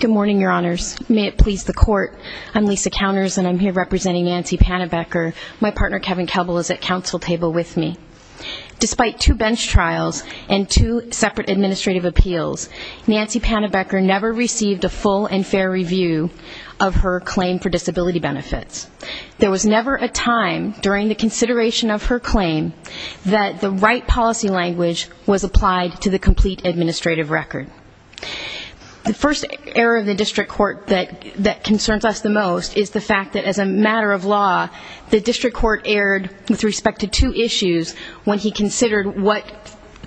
Good morning, Your Honors. May it please the Court, I'm Lisa Counters and I'm here representing Nancy Pannebecker. My partner Kevin Kebel is at counsel table with me. Despite two bench trials and two separate administrative appeals, Nancy Pannebecker never received a full and fair review of her claim for disability benefits. There was never a time during the consideration of her claim that the right policy language was applied to the complete administrative record. The first error of the district court that concerns us the most is the fact that as a matter of law, the district court erred with respect to two issues when he considered what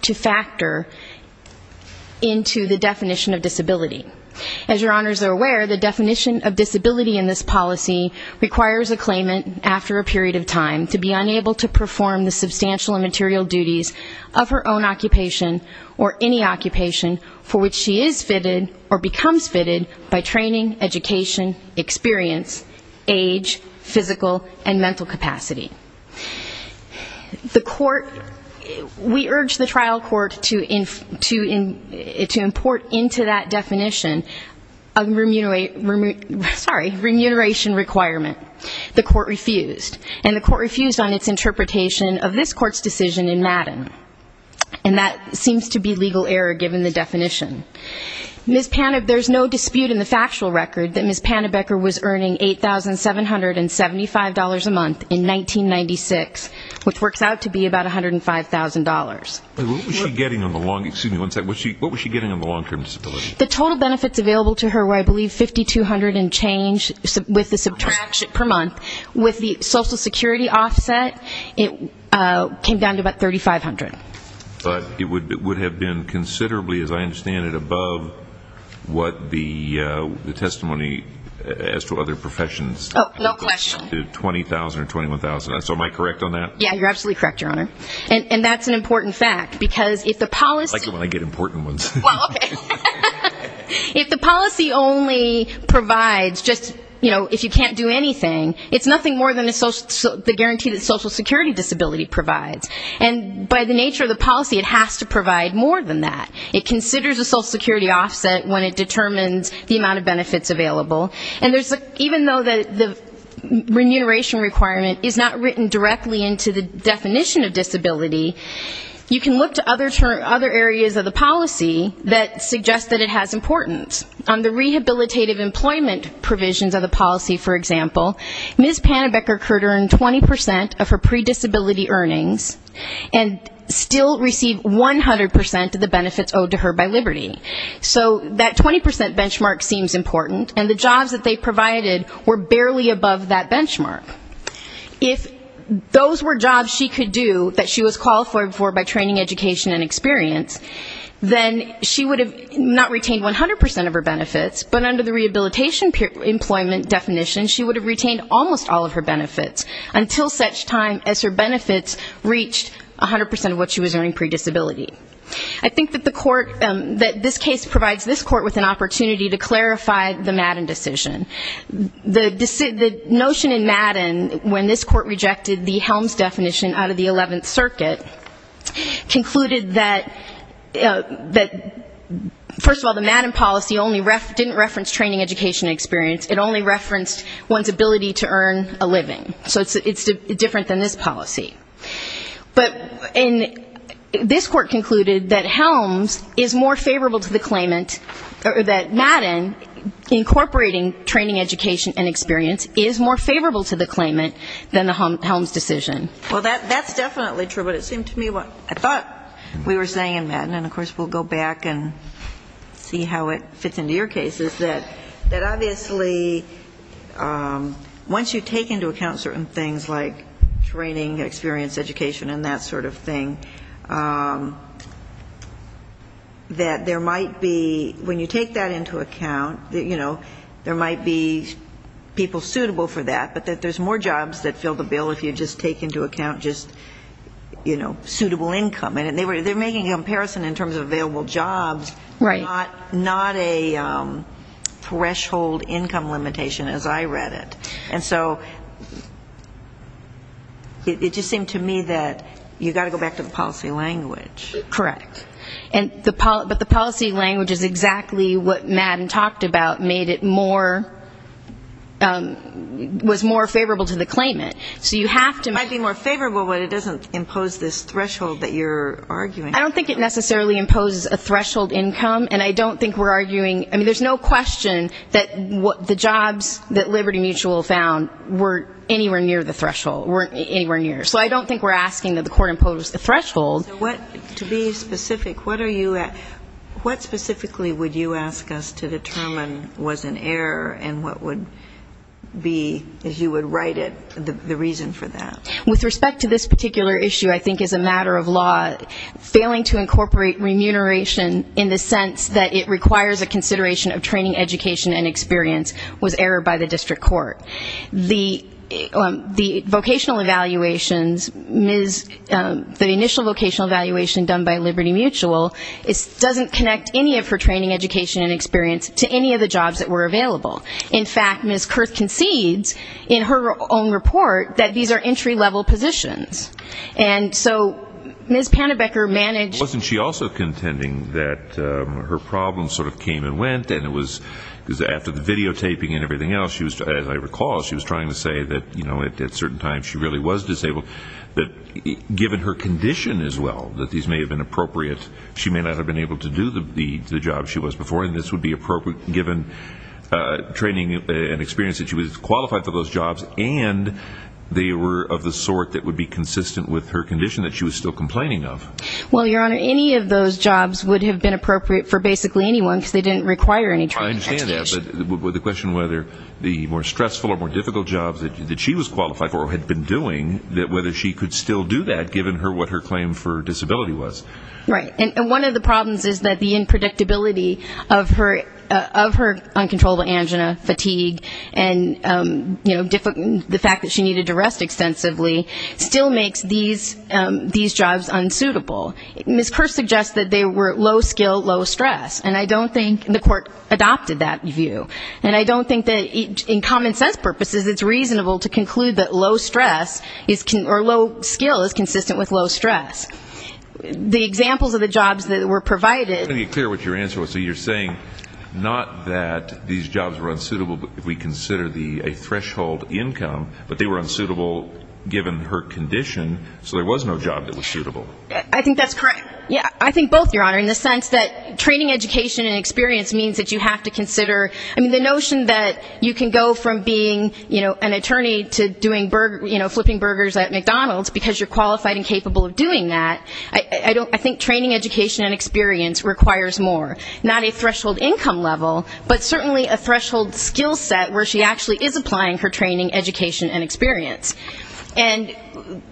to factor into the definition of disability. As your honors are aware, the definition of disability in this policy requires a claimant after a period of time to be unable to perform the substantial and material duties of her own occupation or any physical and mental capacity. The court, we urge the trial court to import into that definition a remuneration requirement. The court refused. And the court refused on its interpretation of this court's decision in Madden. And that seems to be legal error given the definition. Ms. Pannebecker, there's no dispute in the factual record that Ms. Pannebecker was $75 a month in 1996, which works out to be about $105,000. What was she getting on the long-term disability? The total benefits available to her were, I believe, $5,200 and change with the subtraction per month. With the social security offset, it came down to about $3,500. But it would have been considerably, as I understand it, above what the testimony as to other professions. Oh, no question. $20,000 or $21,000. So am I correct on that? Yeah, you're absolutely correct, Your Honor. And that's an important fact, because if the policy I like it when I get important ones. If the policy only provides just, you know, if you can't do anything, it's nothing more than the guarantee that social security disability provides. And by the nature of the policy, it has to provide more than that. It considers a social The remuneration requirement is not written directly into the definition of disability. You can look to other areas of the policy that suggest that it has importance. On the rehabilitative employment provisions of the policy, for example, Ms. Pannebecker could earn 20% of her predisability earnings and still receive 100% of the benefits owed to her by Liberty. So that 20% benchmark seems important, and the jobs that they provided were barely above that benchmark. If those were jobs she could do that she was qualified for by training, education, and experience, then she would have not retained 100% of her benefits, but under the rehabilitation employment definition, she would have retained almost all of her benefits, until such time as her benefits reached 100% of what she was earning predisability. I think that the court, that this case provides this court with an opportunity to clarify the Madden decision. The notion in Madden, when this court rejected the Helms definition out of the 11th circuit, concluded that, first of all, the Madden policy didn't reference training, education, and experience. It only referenced one's ability to earn a living. So it's different than this policy. But this court concluded that Helms is more favorable to the claimant, or that Madden, incorporating training, education, and experience, is more favorable to the claimant than the Helms decision. Well, that's definitely true, but it seemed to me what I thought we were saying in Madden, and of course we'll go back and see how it fits into your case, is that obviously once you take into account certain things like training, experience, education, and that sort of thing, that there might be, when you take that into account, you know, there might be people suitable for that, but that there's more jobs that fill the bill if you just take into account just, you know, suitable income. And they're making a comparison in terms of available jobs, not a threshold income limitation, as I read it. And so it just seemed to me that you've got to go back to the policy language. Correct. But the policy language is exactly what Madden talked about, made it more, was more favorable to the claimant. So you have to make it more favorable, but it doesn't impose this threshold that you're arguing. I don't think it necessarily imposes a threshold income, and I don't think we're arguing, I mean, there's no question that the jobs that Liberty Mutual found weren't anywhere near the threshold, weren't anywhere near. So I don't think we're asking that the court impose the threshold. So to be specific, what specifically would you ask us to determine was an error, and what would be, as you would write it, the reason for that? With respect to this particular issue, I think as a matter of law, failing to incorporate remuneration in the sense that it requires a remuneration was error by the district court. The vocational evaluations, the initial vocational evaluation done by Liberty Mutual, doesn't connect any of her training, education, and experience to any of the jobs that were available. In fact, Ms. Kurth concedes in her own report that these are entry-level positions. And so Ms. Pannebecker managed to do that. In addition to keeping in everything else, as I recall, she was trying to say that at certain times she really was disabled. But given her condition as well, that these may have been appropriate, she may not have been able to do the job she was before, and this would be appropriate given training and experience that she was qualified for those jobs, and they were of the sort that would be consistent with her condition that she was still complaining of. Well, Your Honor, any of those jobs would have been appropriate for basically anyone because they didn't require any training. I understand that, but the question whether the more stressful or more difficult jobs that she was qualified for or had been doing, whether she could still do that given what her claim for disability was. Right. And one of the problems is that the unpredictability of her uncontrollable angina, fatigue, and the fact that she was able to do those jobs was not reasonable. Ms. Kersh suggests that they were low-skill, low-stress, and I don't think the court adopted that view. And I don't think that in common-sense purposes it's reasonable to conclude that low-skill is consistent with low-stress. The examples of the jobs that were provided ---- Let me be clear what your answer was. So you're saying not that these jobs were unsuitable if we consider a threshold income, but they were unsuitable given her condition, so there was no job that was suitable. I think that's correct. I think both, Your Honor, in the sense that training education and experience means that you have to consider the notion that you can go from being an attorney to doing ---- flipping burgers at McDonald's because you're qualified and capable of doing that. I think training education and experience requires more. Not a threshold income level, but certainly a threshold experience. And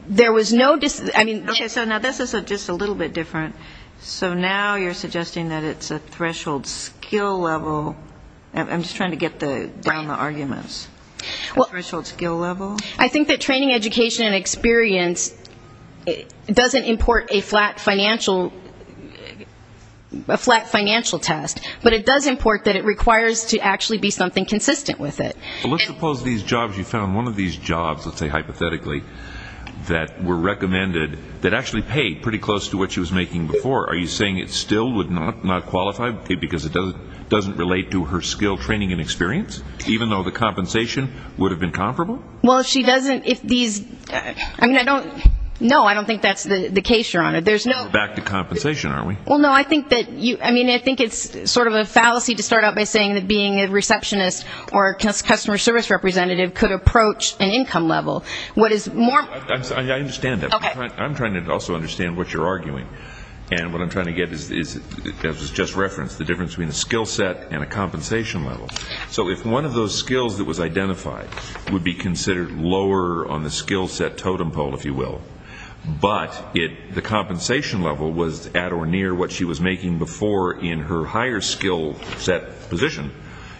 there was no ---- Okay, so now this is just a little bit different. So now you're suggesting that it's a threshold skill level. I'm just trying to get down the arguments. A threshold skill level? I think that training education and experience doesn't import a flat financial test, but it does import that it requires to actually be doing something consistent with it. Well, let's suppose you found one of these jobs, let's say hypothetically, that were recommended that actually paid pretty close to what she was making before. Are you saying it still would not qualify because it doesn't relate to her skill training and experience, even though the compensation would have been comparable? Well, she doesn't ---- No, I don't think that's the case, Your Honor. Back to compensation, are we? Well, no, I think it's sort of a fallacy to start out by saying that being a receptionist or customer service representative could approach an income level. What is more ---- I understand that. I'm trying to also understand what you're arguing. And what I'm trying to get is, as was just referenced, the difference between a skill set and a compensation level. So if one of those skills that was identified would be considered lower on the compensation level was at or near what she was making before in her higher skill set position,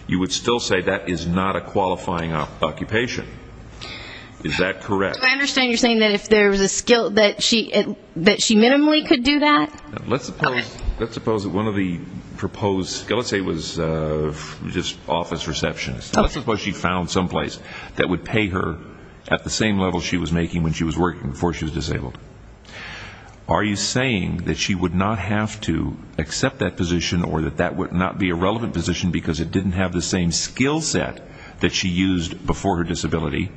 you would still say that is not a qualifying occupation. Is that correct? Do I understand you're saying that if there was a skill that she minimally could do that? Let's suppose one of the proposed skills, let's say it was just office reception, let's suppose she found someplace that would pay her at the same level she was making when she was working before she was disabled. Are you saying that she would not have to accept that position or that that would not be a relevant position because it didn't have the same skill set that she used before her disability?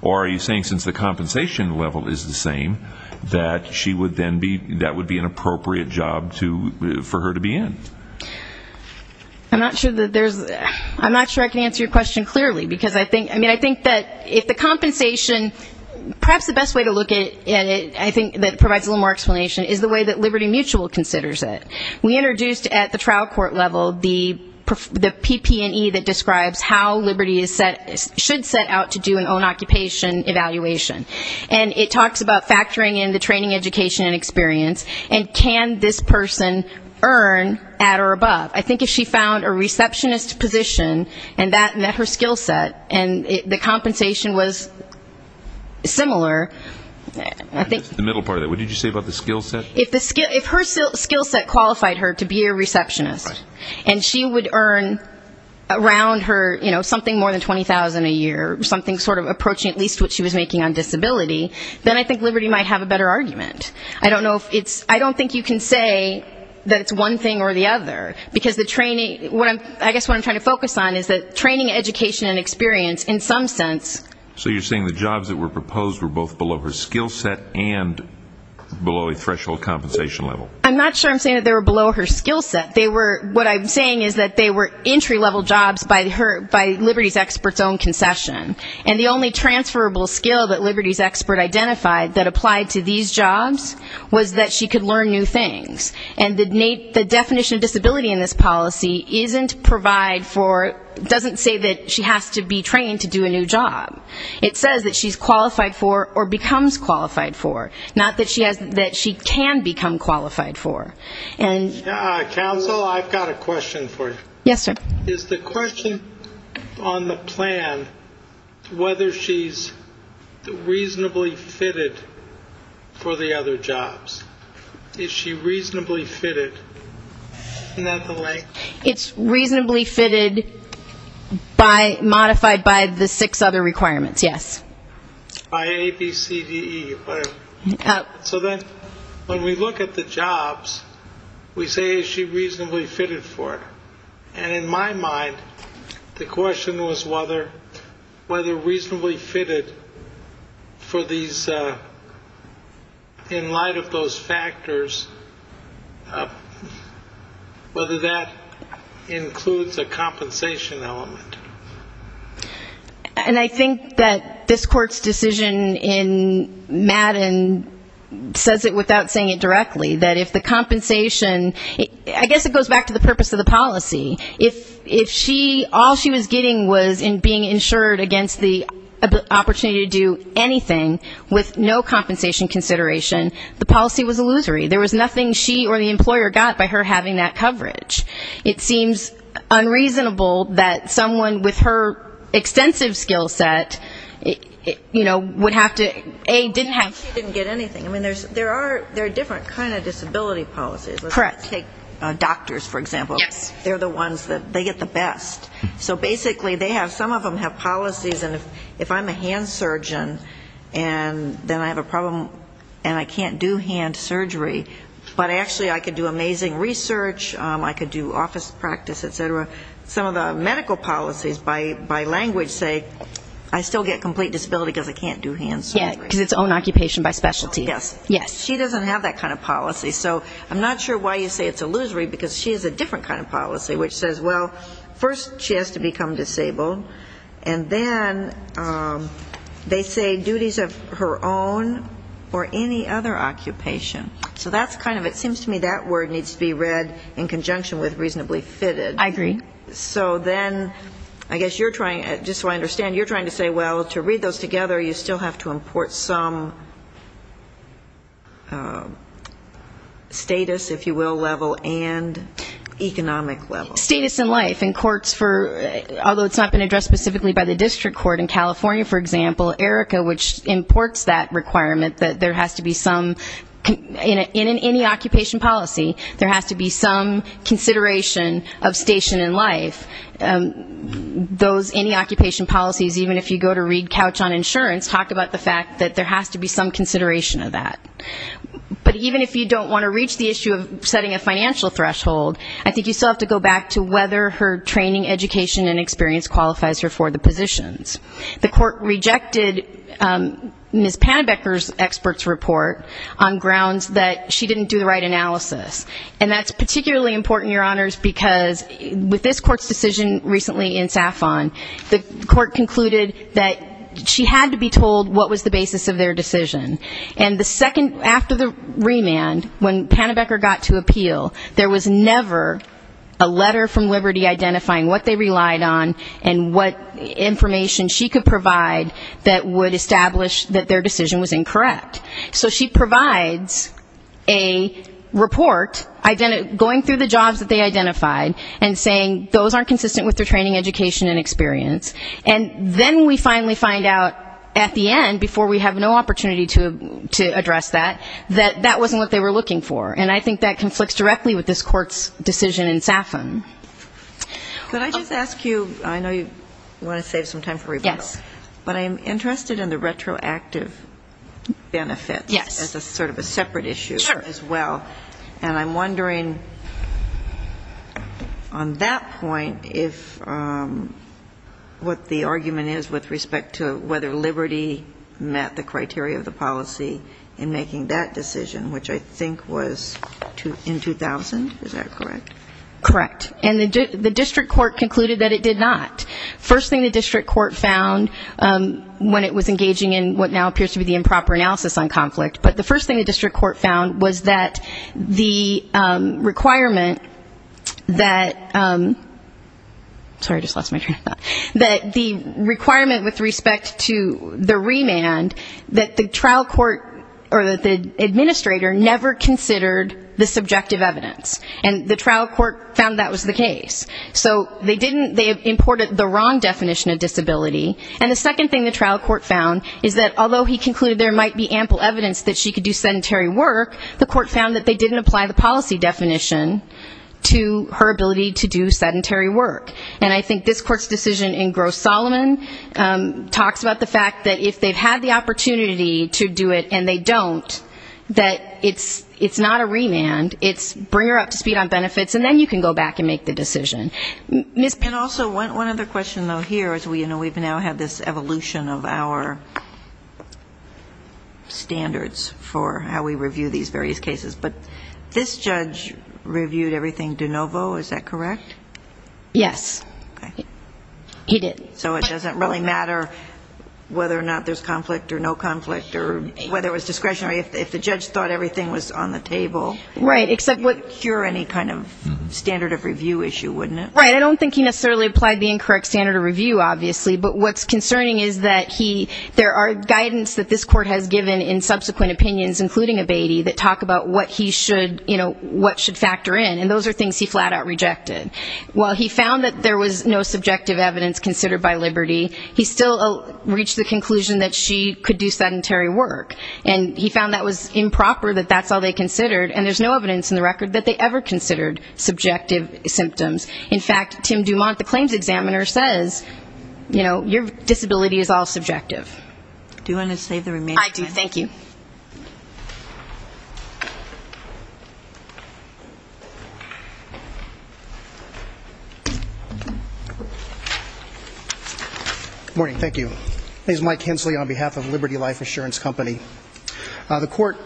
Or are you saying since the compensation level is the same, that she would then be ---- that would be an appropriate job for her to be in? I'm not sure I can answer your question clearly, because I think that if the compensation, perhaps the best way to look at it, I think that provides a little more explanation, is the way that Liberty Mutual considers it. We introduced at the trial court level the PP&E that describes how Liberty should set out to do an own occupation evaluation. And it talks about factoring in the training, education and experience, and can this person earn at or above. I think if she found a receptionist position and that met her skill set and the compensation was similar, I think ---- The middle part of that. What did you say about the skill set? If her skill set qualified her to be a receptionist and she would earn around her something more than $20,000 a year, something sort of approaching at least what she was making on disability, then I think Liberty might have a better argument. I don't know if it's ---- I don't think you can say that it's one thing or the other, because the training ---- I guess what I'm trying to focus on is that training, education and experience in some sense. So you're saying the jobs that were proposed were both below her skill set and below a threshold compensation level? I'm not sure I'm saying they were below her skill set. What I'm saying is that they were entry-level jobs by Liberty's expert's own concession, and the only transferable skill that Liberty's expert identified that applied to these jobs was that she could learn new things. And the definition of disability in this policy isn't provide for ---- doesn't say that she has to be trained to do a new job. It says that she's qualified for or becomes qualified for, not that she can become qualified for. Counsel, I've got a question for you. Yes, sir. Is the question on the plan whether she's reasonably fitted for the other jobs? Is she reasonably fitted in that way? It's reasonably fitted by ---- modified by the six other requirements, yes. By A, B, C, D, E. So then when we look at the jobs, we say is she reasonably fitted for it? And in my mind, the question was whether reasonably fitted for these, in light of those factors, whether that includes a compensation element. And I think that this court's decision in Madden says it without saying it directly, that if the compensation ---- I guess it goes back to the purpose of the policy. If she ---- all she was getting was in being insured against the opportunity to do anything with no compensation consideration, the policy was illusory. There was nothing she or the employer got by her having that coverage. It seems unreasonable that someone with her extensive skill set, you know, would have to, A, didn't have ---- She didn't get anything. I mean, there are different kind of disability policies. Correct. Let's take doctors, for example. They're the ones that they get the best. So basically they have ---- some of them have policies, and if I'm a doctor and I have a problem and I can't do hand surgery, but actually I could do amazing research, I could do office practice, et cetera, some of the medical policies by language say I still get complete disability because I can't do hand surgery. Yes, because it's own occupation by specialty. Yes. She doesn't have that kind of policy. So I'm not sure why you say it's illusory, because she has a different kind of policy, which is she doesn't have to do hand surgery or any other occupation. So that's kind of, it seems to me that word needs to be read in conjunction with reasonably fitted. I agree. So then I guess you're trying, just so I understand, you're trying to say, well, to read those together, you still have to import some status, if you support that requirement, that there has to be some, in any occupation policy, there has to be some consideration of station in life. Those any occupation policies, even if you go to read Couch on Insurance, talk about the fact that there has to be some consideration of that. But even if you don't want to reach the issue of setting a financial threshold, I think you still have to go back to whether her training, education and experience qualifies her for the positions. And I think that's part of Ms. Pannebecker's expert's report on grounds that she didn't do the right analysis. And that's particularly important, Your Honors, because with this court's decision recently in SAFON, the court concluded that she had to be told what was the basis of their decision. And the second, after the remand, when Pannebecker got to appeal, there was never a letter from Liberty identifying what they relied on and what information she could provide that would establish that there was no basis of their decision. That their decision was incorrect. So she provides a report going through the jobs that they identified and saying those aren't consistent with their training, education and experience. And then we finally find out at the end, before we have no opportunity to address that, that that wasn't what they were looking for. And I think that conflicts directly with this court's decision in SAFON. But I just ask you, I know you want to save some time for rebuttal. But I'm interested in the retroactive benefits as sort of a separate issue as well. And I'm wondering, on that point, if what the argument is with respect to whether Liberty met the criteria of the policy in making that decision, which I think was in 2000, is that correct? Correct. And the district court concluded that it did not. First thing the district court found when it was engaging in what now appears to be the improper analysis on conflict, but the first thing the district court found was that the requirement that the requirement with respect to the remand, that the trial court or that the administrator never considered the subjective evidence. And the trial court found that was the case. So they imported the wrong definition of disability. And the second thing the trial court found is that although he concluded there might be ample evidence that she could do sedentary work, the court found that they didn't apply the policy definition to her ability to do sedentary work. And I think this court's decision in Gross-Solomon talks about the fact that if they've had the opportunity to do it and they don't, that it's not a remand, it's bring her up to speed on benefits, and then you can go back and make the decision. And also one other question, though, here, is we've now had this evolution of our standards for how we review these various cases. But this judge reviewed everything de novo, is that correct? Yes. He did. So it doesn't really matter whether or not there's conflict or no conflict or whether it was discretionary. If the judge thought everything was on the table, it wouldn't cure any kind of standard of review issue, wouldn't it? Right. I don't think he necessarily applied the incorrect standard of review, obviously. But what's concerning is that there are guidance that this court has given in subsequent opinions, including Abatey, that talk about what he should, you know, what should factor in. And those are things he flat-out rejected. He said, you know, if she could do sedentary work by liberty, he still reached the conclusion that she could do sedentary work. And he found that was improper, that that's all they considered, and there's no evidence in the record that they ever considered subjective symptoms. In fact, Tim Dumont, the claims examiner, says, you know, your disability is all subjective. Do you want to save the remainder? I do. Thank you. Good morning. Thank you. This is Mike Hensley on behalf of Liberty Life Insurance Company. The court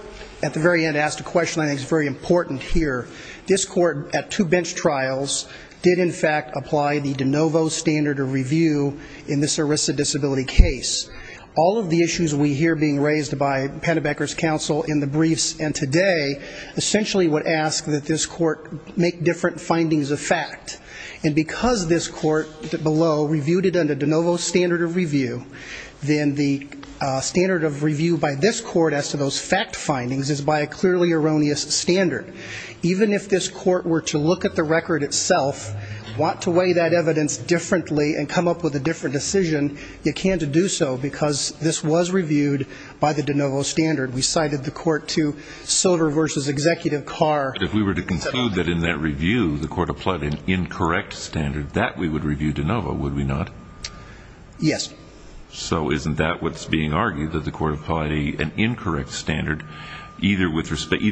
at the very end asked a question I think is very important here. This court at two bench trials did, in fact, apply the de novo standard of review in this ARISA disability case. All of the issues we hear being raised by Pennebecker's counsel in the briefs and today essentially would ask that this court make different findings of fact. And because this court below reviewed it under de novo standard of review, then the standard of review by this court as to those fact findings is by a clearly erroneous standard. Even if this court were to look at the record itself, want to weigh that evidence differently and come up with a different decision, you can't do so because this was reviewed by the de novo standard. We cited the court to silver versus executive car. If we were to conclude that in that review the court applied an incorrect standard, that we would review de novo, would we not? Yes. So isn't that what's being argued, that the court applied an incorrect standard either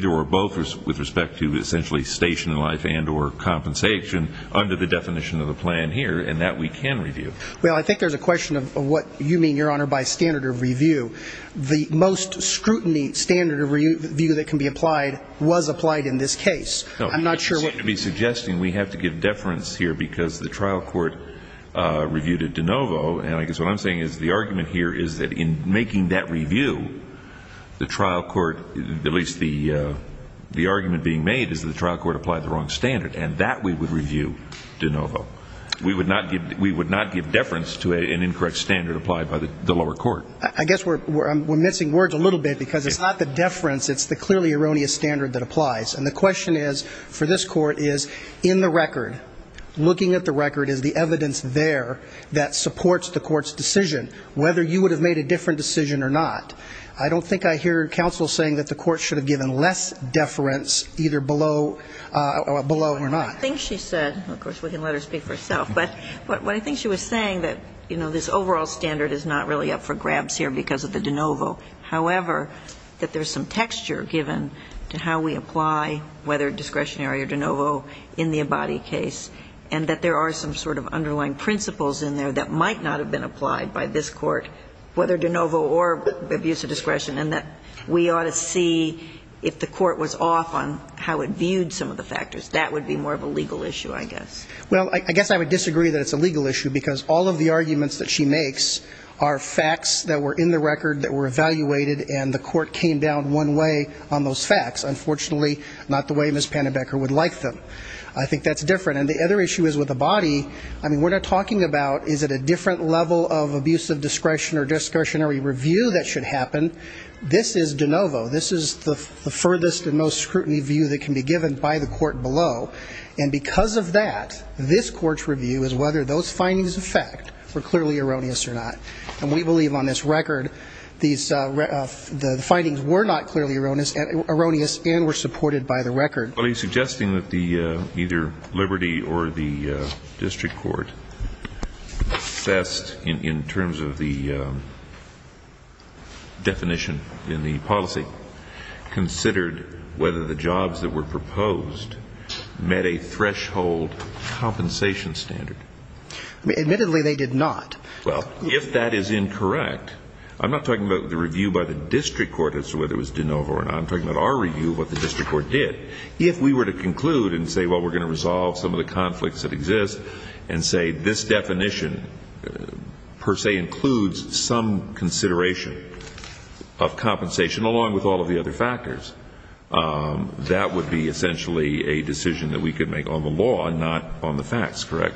or both with respect to essentially station in life and or compensation under the definition of the plan here and that we can review? Well, I think there's a question of what you mean, Your Honor, by standard of review. The most scrutiny standard of review that can be applied was applied in this case. No, you seem to be suggesting we have to give deference here because the trial court reviewed it de novo and I guess what I'm saying is the argument here is that in making that review, the trial court, at least the argument being made, is that the trial court applied the wrong standard and that we would review de novo. I guess we're missing words a little bit because it's not the deference, it's the clearly erroneous standard that applies. And the question is for this court is in the record, looking at the record, is the evidence there that supports the court's decision, whether you would have made a different decision or not. I don't think I hear counsel saying that the court should have given less deference either below or not. I think she said, of course we can let her speak for herself, but what I think she was saying that, you know, this overall standard is not really up for grabs here because of the de novo, however, that there's some texture given to how we apply whether discretionary or de novo in the Abadi case and that there are some sort of underlying principles in there that might not have been applied by this court, whether de novo or abuse of discretion, and that we ought to see if the court was off on how it viewed some of the factors. That would be more of a legal issue, I guess. Well, I guess I would disagree that it's a legal issue because all of the arguments that she makes are facts that were in the record that were evaluated, and the court came down one way on those facts. Unfortunately, not the way Ms. Pannenbecker would like them. I think that's different. And the other issue is with Abadi, I mean, we're not talking about is it a different level of abuse of discretion or discretionary review that should happen. This is de novo. This is the furthest and most scrutiny view that can be given by the court below, and because of that, this court's review is whether those findings of fact were clearly erroneous or not. And we believe on this record the findings were not clearly erroneous and were supported by the record. Well, are you suggesting that either Liberty or the district court sussed in terms of the definition of abuse of discretion? I mean, the district court, in its definition in the policy, considered whether the jobs that were proposed met a threshold compensation standard. Admittedly, they did not. Well, if that is incorrect, I'm not talking about the review by the district court as to whether it was de novo or not. I'm talking about our review of what the district court did. If we were to conclude and say, well, we're going to resolve some of the conflicts that exist, and say this definition per se includes some consideration, well, that's not true. If we were to conclude that that definition of compensation, along with all of the other factors, that would be essentially a decision that we could make on the law and not on the facts, correct?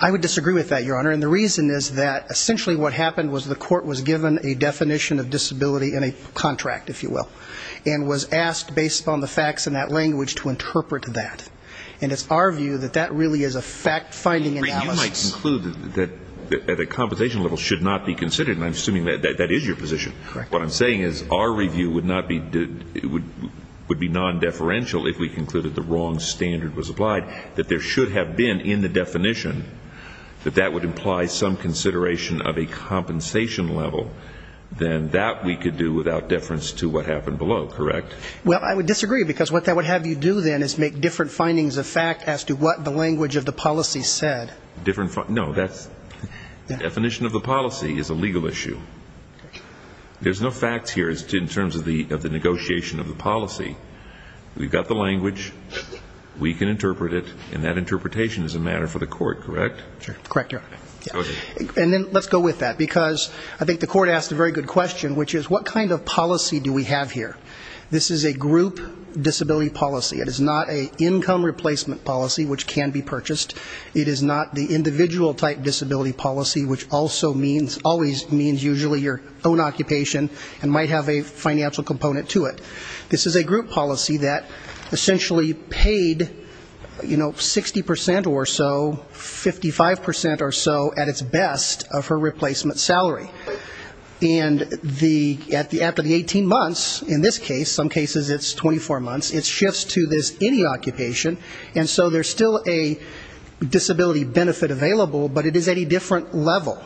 I would disagree with that, Your Honor, and the reason is that essentially what happened was the court was given a definition of disability in a contract, if you will, and was asked based on the facts in that language to interpret that. And it's our view that that really is a fact-finding analysis. If we might conclude that the compensation level should not be considered, and I'm assuming that that is your position, what I'm saying is our review would be non-deferential if we concluded the wrong standard was applied, that there should have been in the definition that that would imply some consideration of a compensation level, then that we could do without deference to what happened below, correct? Well, I would disagree, because what that would have you do then is make different findings of fact as to what the language of the policy said. No, the definition of the policy is a legal issue. There's no facts here in terms of the negotiation of the policy. We've got the language, we can interpret it, and that interpretation is a matter for the court, correct? Correct, Your Honor. And then let's go with that, because I think the court asked a very good question, which is what kind of policy do we have here? This is a group disability policy, it is not an income replacement policy, which can be purchased. It is not the individual type disability policy, which also means, always means usually your own occupation and might have a financial component to it. This is a group policy that essentially paid, you know, 60% or so, 55% or so at its best of her replacement salary. And the, after the 18 months, in this case, some cases it's 24 months, it shifts to this any occupation, and so there's still a disability benefit available, but it is at a different level.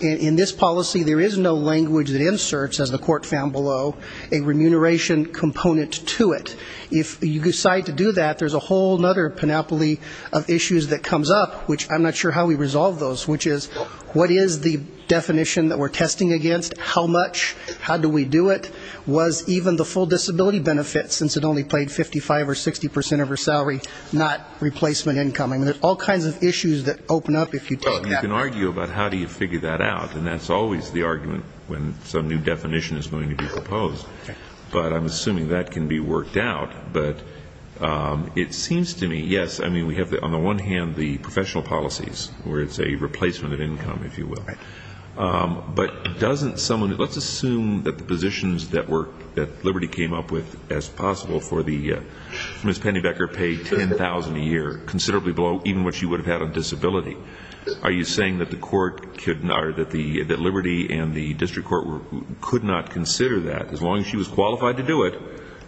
In this policy there is no language that inserts, as the court found below, a remuneration component to it. If you decide to do that, there's a whole other panoply of issues that comes up, which I'm not sure how we resolve those, which is what is the definition that we're testing against, how much, how do we do it, was even the full disability benefit, since it only paid 55 or 60% of her salary, not replacement income. I mean, there's all kinds of issues that open up if you take that. Well, you can argue about how do you figure that out, and that's always the argument when some new definition is going to be proposed, but I'm assuming that can be worked out. But it seems to me, yes, I mean, we have, on the one hand, the professional policies, where it's a replacement of income, if you will. But doesn't someone, let's assume that the positions that Liberty came up with as possible for the, Ms. Pennybecker paid 10,000 a year, considerably below even what she would have had on disability, are you saying that the court, that Liberty and the district court could not consider that? As long as she was qualified to do it,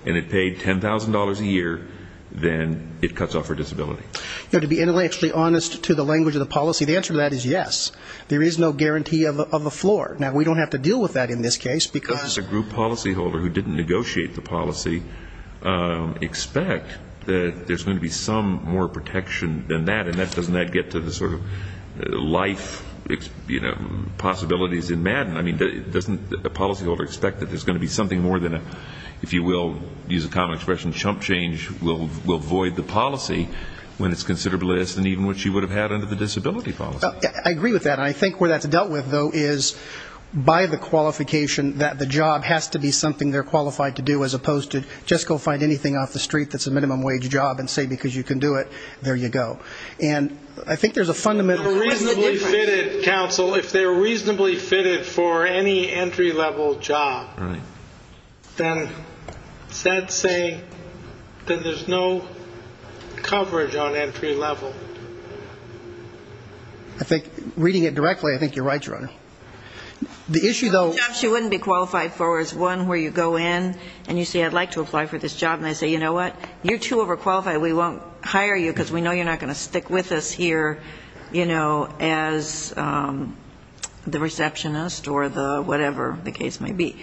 and it paid $10,000 a year, then it cuts off her disability. To be extremely honest to the language of the policy, the answer to that is yes. There is no guarantee of a floor. Now, we don't have to deal with that in this case, because... As a group policyholder who didn't negotiate the policy, expect that there's going to be some more protection than that, and doesn't that get to the sort of life possibilities in Madden? I mean, doesn't a policyholder expect that there's going to be something more than a, if you will, use a common expression, chump change, will void the policy when it's considerably less than even what she would have had under the disability policy? I agree with that, and I think where that's dealt with, though, is by the qualification that the job has to be something they're qualified to do, as opposed to just go find anything off the street that's a minimum wage job and say, because you can do it, there you go. And I think there's a fundamental... If they're reasonably fitted, counsel, if they're reasonably fitted for any entry-level job, then is that saying that there's no coverage on entry-level? I think, reading it directly, I think you're right, Your Honor. The issue, though... The job she wouldn't be qualified for is one where you go in, and you say, I'd like to apply for this job, and they say, you know what, you're too overqualified, we won't hire you, because we know you're not going to stick with us here, you know, as the receptionist, or the whatever the case may be.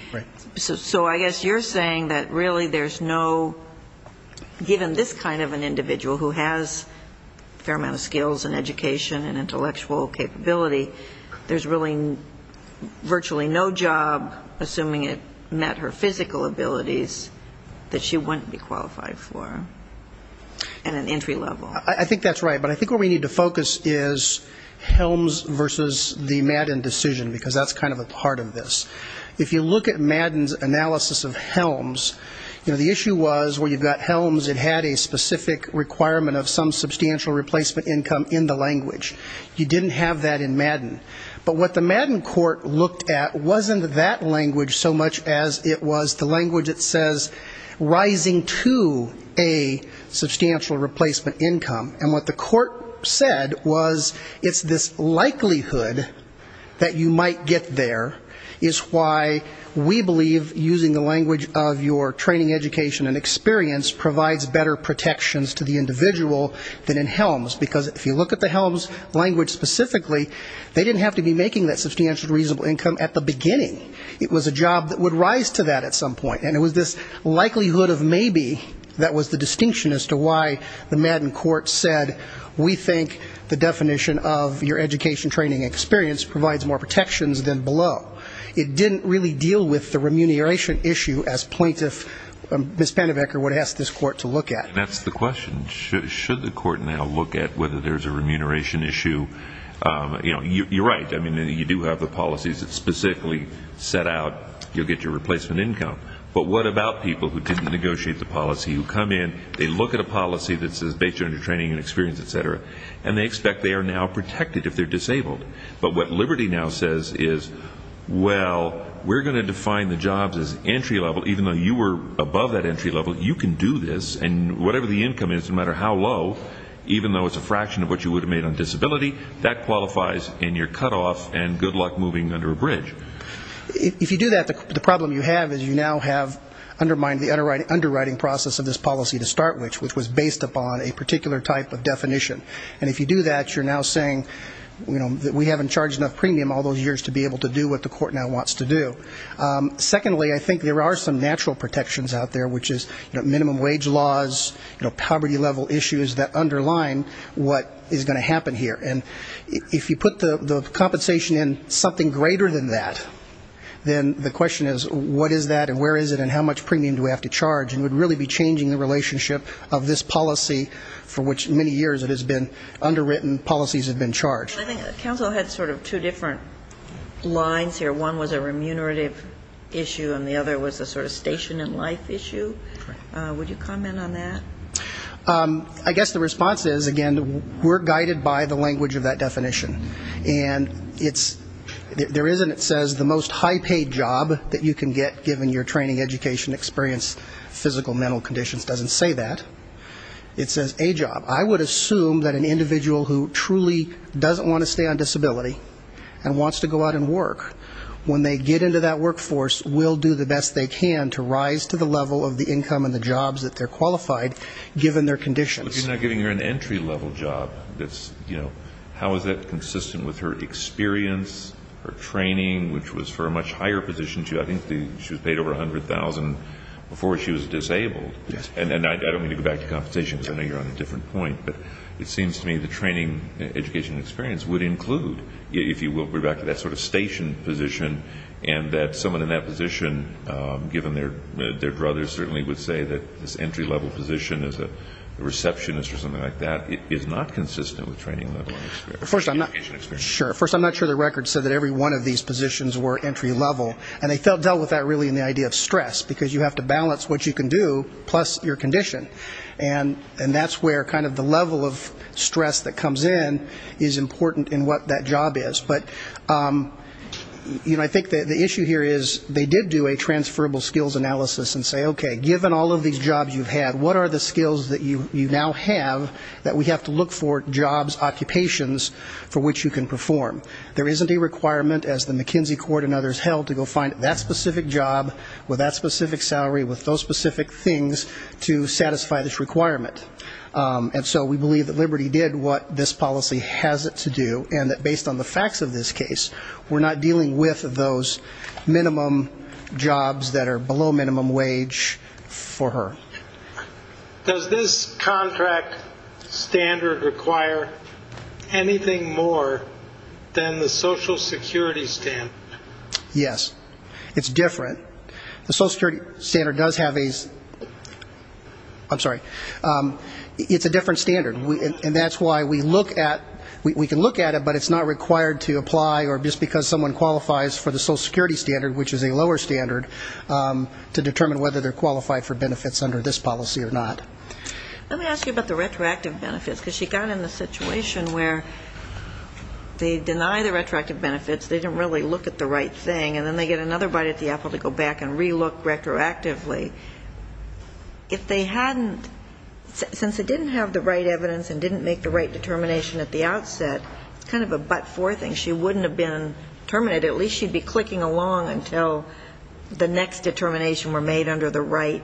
So I guess you're saying that really there's no, given this kind of an individual who has a fair amount of skills in education and intellectual development, there's no coverage on entry-level? Capability, there's really virtually no job, assuming it met her physical abilities, that she wouldn't be qualified for at an entry-level? I think that's right, but I think where we need to focus is Helms versus the Madden decision, because that's kind of a part of this. If you look at Madden's analysis of Helms, you know, the issue was where you've got Helms, it had a specific requirement of some substantial replacement income in the language. You didn't have that in Madden. But what the Madden court looked at wasn't that language so much as it was the language that says, rising to a substantial replacement income, and what the court said was, it's this likelihood that you might get there, is why we believe using the language of your training, education, and experience provides better protections to the individual than in Helms, because if you look at the Helms, you can't get there without a replacement income. So if you look at the Madden language specifically, they didn't have to be making that substantial reasonable income at the beginning. It was a job that would rise to that at some point, and it was this likelihood of maybe that was the distinction as to why the Madden court said, we think the definition of your education, training, and experience provides more protections than below. It didn't really deal with the remuneration issue as plaintiff, Ms. Pendebecker, would ask this court to look at. And that's the question. Should the court now look at whether there's a remuneration issue? You're right. You do have the policies that specifically set out you'll get your replacement income. But what about people who didn't negotiate the policy, who come in, they look at a policy that says, based on your training and experience, et cetera, and they expect they are now protected if they're disabled. But what Liberty now says is, well, we're going to define the jobs as entry level, even though you were above that entry level, you can do this, and whatever the income is, no matter how low, even though it's a fraction of what you would have made on disability, that qualifies in your cutoff and good luck moving under a bridge. If you do that, the problem you have is you now have undermined the underwriting process of this policy to start with, which was based upon a particular type of definition. And if you do that, you're now saying that we haven't charged enough premium all those years to be able to do what the court now wants to do. Secondly, I think there are some natural protections out there, which is minimum wage laws, poverty level issues that underline what is going to happen here. And if you put the compensation in something greater than that, then the question is, what is that and where is it and how much premium do we have to charge? And it would really be changing the relationship of this policy, for which many years it has been underwritten, policies have been charged. I think counsel had sort of two different lines here. One was a remunerative issue and the other was a sort of station in life issue. Would you comment on that? I guess the response is, again, we're guided by the language of that definition. And it's, there is, and it says the most high paid job that you can get given your training, education, experience, physical, mental conditions, doesn't say that. It says a job. I would assume that an individual who truly doesn't want to stay on disability and wants to go out and work, when they get into that workforce, will do the best they can to rise to the level of the income and the jobs that they're qualified, given their conditions. But you're not giving her an entry level job. How is that consistent with her experience, her training, which was for a much higher position. I think she was paid over $100,000 before she was disabled. And I don't mean to go back to compensation, because I know you're on a different point. But it seems to me the training, education, experience would include, if you will, go back to that sort of station position and that someone in that position, given their druthers, certainly would say that this entry level position is a receptionist position. It's not consistent with training level and experience. First, I'm not sure the record said that every one of these positions were entry level. And they dealt with that really in the idea of stress, because you have to balance what you can do plus your condition. And that's where kind of the level of stress that comes in is important in what that job is. But I think the issue here is they did do a transferable skills analysis and say, okay, given all of these jobs you've had, what are the skills that you now have that we have to look for jobs, occupations for which you can perform? There isn't a requirement, as the McKinsey court and others held, to go find that specific job with that specific salary with those specific things to satisfy this requirement. And so we believe that Liberty did what this policy has it to do, and that based on the facts of this case, we're not dealing with those minimum jobs that are below minimum wage for her. Does this contract standard require anything more than the social security standard? Yes. It's different. The social security standard does have a, I'm sorry, it's a different standard. And that's why we look at, we can look at it, but it's not required to apply or just because someone qualifies for the social security standard, which is a lower standard, to determine whether they're qualified for benefits under this policy or not. Let me ask you about the retroactive benefits, because she got in the situation where they deny the retroactive benefits, they didn't really look at the right thing, and then they get another bite at the apple to go back and relook retroactively. If they hadn't, since it didn't have the right evidence and didn't make the right determination at the outset, it's kind of a but-for thing. She wouldn't have been terminated. At least she'd be clicking along until the next determination were made on her own.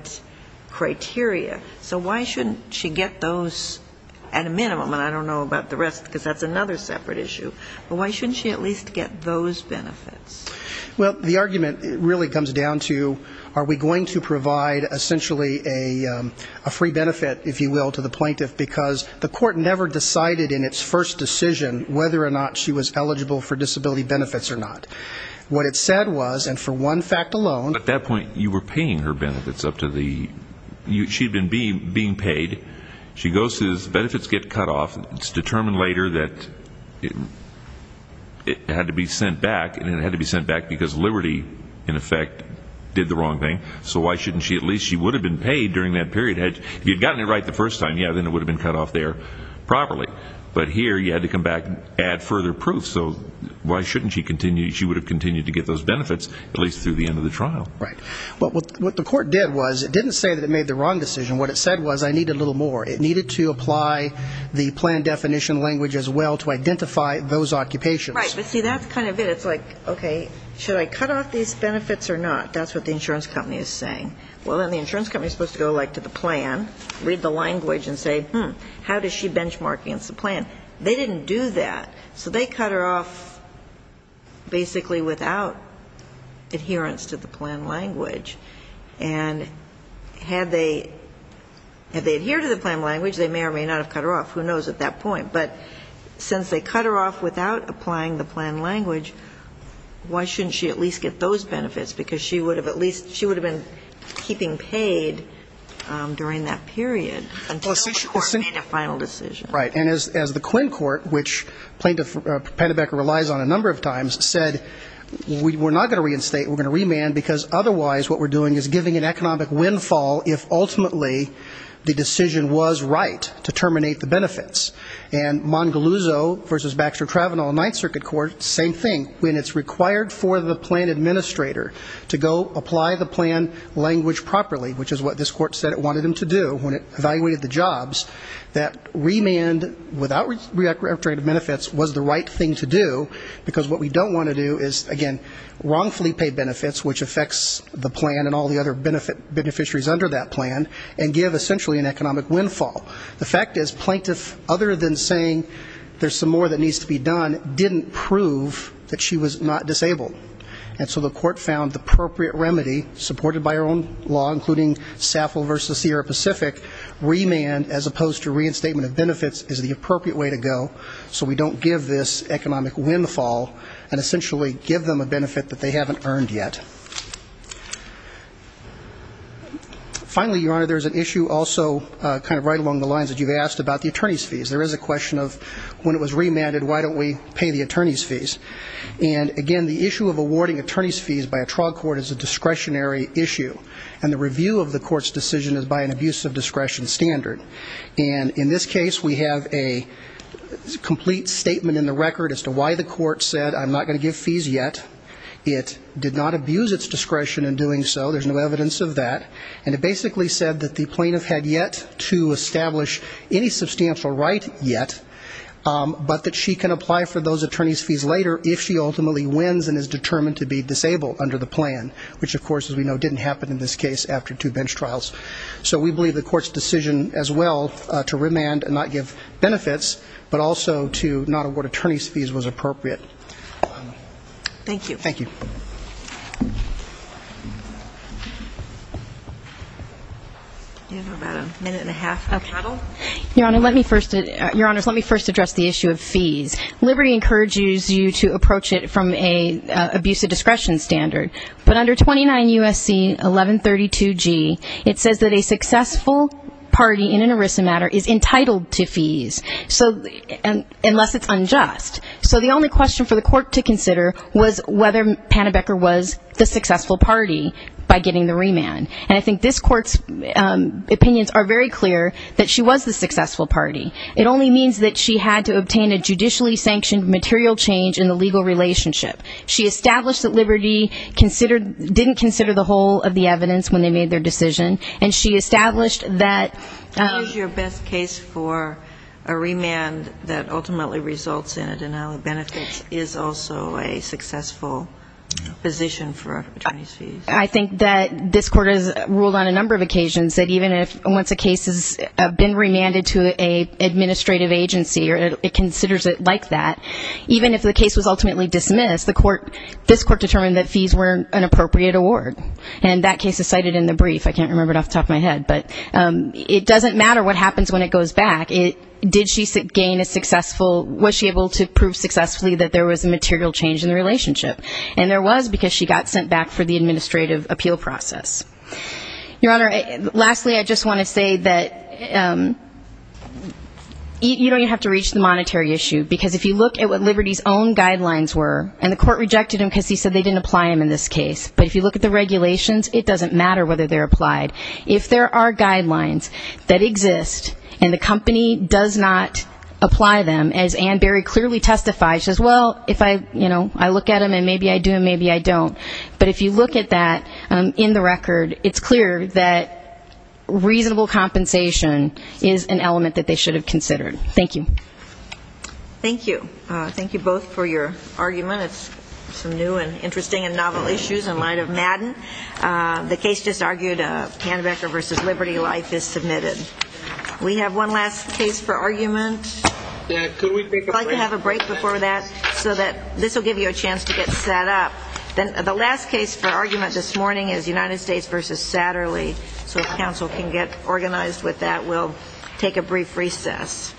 So why shouldn't she get those at a minimum, and I don't know about the rest, because that's another separate issue, but why shouldn't she at least get those benefits? Well, the argument really comes down to are we going to provide essentially a free benefit, if you will, to the plaintiff, because the court never decided in its first decision whether or not she was eligible for disability benefits or not. What it said was, and for one fact alone... At that point, you were paying her benefits up to the, she'd been being paid, she goes to this, benefits get cut off, it's determined later that it had to be sent back, and it had to be sent back because Liberty, in effect, did the wrong thing, so why shouldn't she at least, she would have been paid during that period. If you'd gotten it right the first time, yeah, then it would have been cut off there properly, but here you had to come back, add further proof, so why shouldn't she continue, she would have continued to get those benefits, at least through the end of the trial. Right. But what the court did was, it didn't say that it made the wrong decision, what it said was, I need a little more, it needed to apply the plan definition language as well to identify those occupations. Right, but see, that's kind of it, it's like, okay, should I cut off these benefits or not, that's what the insurance company is saying. Well, then the insurance company is supposed to go, like, to the plan, read the language and say, hmm, how does she benchmark against the plan? They didn't do that, so they cut her off basically without adherence to the plan language, and had they, had they adhered to the plan language, they may or may not have cut her off, who knows at that point, but since they cut her off without applying the plan language, why shouldn't she at least get those benefits, because she would have at least, she would have been keeping paid during that period until the court made a final decision. Right, and as the Quinn court, which plaintiff Pennebecker relies on a number of times, said, we're not going to reinstate, we're going to remand, because otherwise what we're doing is giving an economic windfall if ultimately the decision was right to terminate the benefits. And Mongaluzzo v. Baxter-Travano, Ninth Circuit Court, same thing, when it's required for the plan administrator to go apply the plan language properly, which is what this court said it wanted him to do, when it evaluated the jobs, that remand is not an option. Remand without reiterating benefits was the right thing to do, because what we don't want to do is, again, wrongfully pay benefits, which affects the plan and all the other beneficiaries under that plan, and give essentially an economic windfall. The fact is, plaintiff, other than saying there's some more that needs to be done, didn't prove that she was not disabled. And so the court found the appropriate remedy, supported by her own law, including Saffel v. Sierra Pacific, remand as opposed to reinstatement of benefits, is not an option. It's the appropriate way to go, so we don't give this economic windfall, and essentially give them a benefit that they haven't earned yet. Finally, Your Honor, there's an issue also kind of right along the lines that you've asked about the attorney's fees. There is a question of when it was remanded, why don't we pay the attorney's fees? And, again, the issue of awarding attorney's fees by a trial court is a discretionary issue, and the review of the court's decision is by an abuse of discretion standard. And in this case, we have a complete statement in the record as to why the court said, I'm not going to give fees yet. It did not abuse its discretion in doing so. There's no evidence of that. And it basically said that the plaintiff had yet to establish any substantial right yet, but that she can apply for those attorney's fees later if she ultimately wins and is determined to be disabled under the plan, which, of course, as we know, didn't happen in this case after two bench trials. So we believe the court's decision, as well, to remand and not give benefits, but also to not award attorney's fees was appropriate. Thank you. Your Honor, let me first address the issue of fees. Liberty encourages you to approach it from an abuse of discretion standard, but under 29 U.S.C. 1132G, it says that the attorney's fees are not subject to remand. It says that a successful party in an ERISA matter is entitled to fees, unless it's unjust. So the only question for the court to consider was whether Pannebecker was the successful party by getting the remand. And I think this court's opinions are very clear that she was the successful party. It only means that she had to obtain a judicially sanctioned material change in the legal relationship. She established that Liberty didn't consider the whole of the evidence when they made their decision, and she established that... What is your best case for a remand that ultimately results in a denial of benefits is also a successful position for attorney's fees? I think that this court has ruled on a number of occasions that even if once a case has been remanded to an administrative agency, it considers it like that. Even if the case was ultimately dismissed, this court determined that fees weren't an appropriate award. And that case is cited in the brief. I can't remember it off the top of my head. But it doesn't matter what happens when it goes back. Was she able to prove successfully that there was a material change in the relationship? And there was, because she got sent back for the administrative appeal process. Your Honor, lastly, I just want to say that you don't even have to reach the monetary issue. Because if you look at what Liberty's own guidelines were, and the court rejected them because he said they didn't apply them in this case, but if you look at the regulations, it doesn't matter whether they're applied. If there are guidelines that exist and the company does not apply them, as Anne Berry clearly testifies, she says, well, if I look at them and maybe I do and maybe I don't, but if you look at that in the record, it's clear that reasonable compensation is an element that they should have considered. Thank you. Thank you. Thank you both for your argument. It's some new and interesting and novel issues in light of Madden. The case just argued, Kannebecker v. Liberty Life is submitted. We have one last case for argument. If I could have a break before that so that this will give you a chance to get set up. The last case for argument this morning is United States v. Satterley. So if counsel can get organized with that, we'll take a brief recess.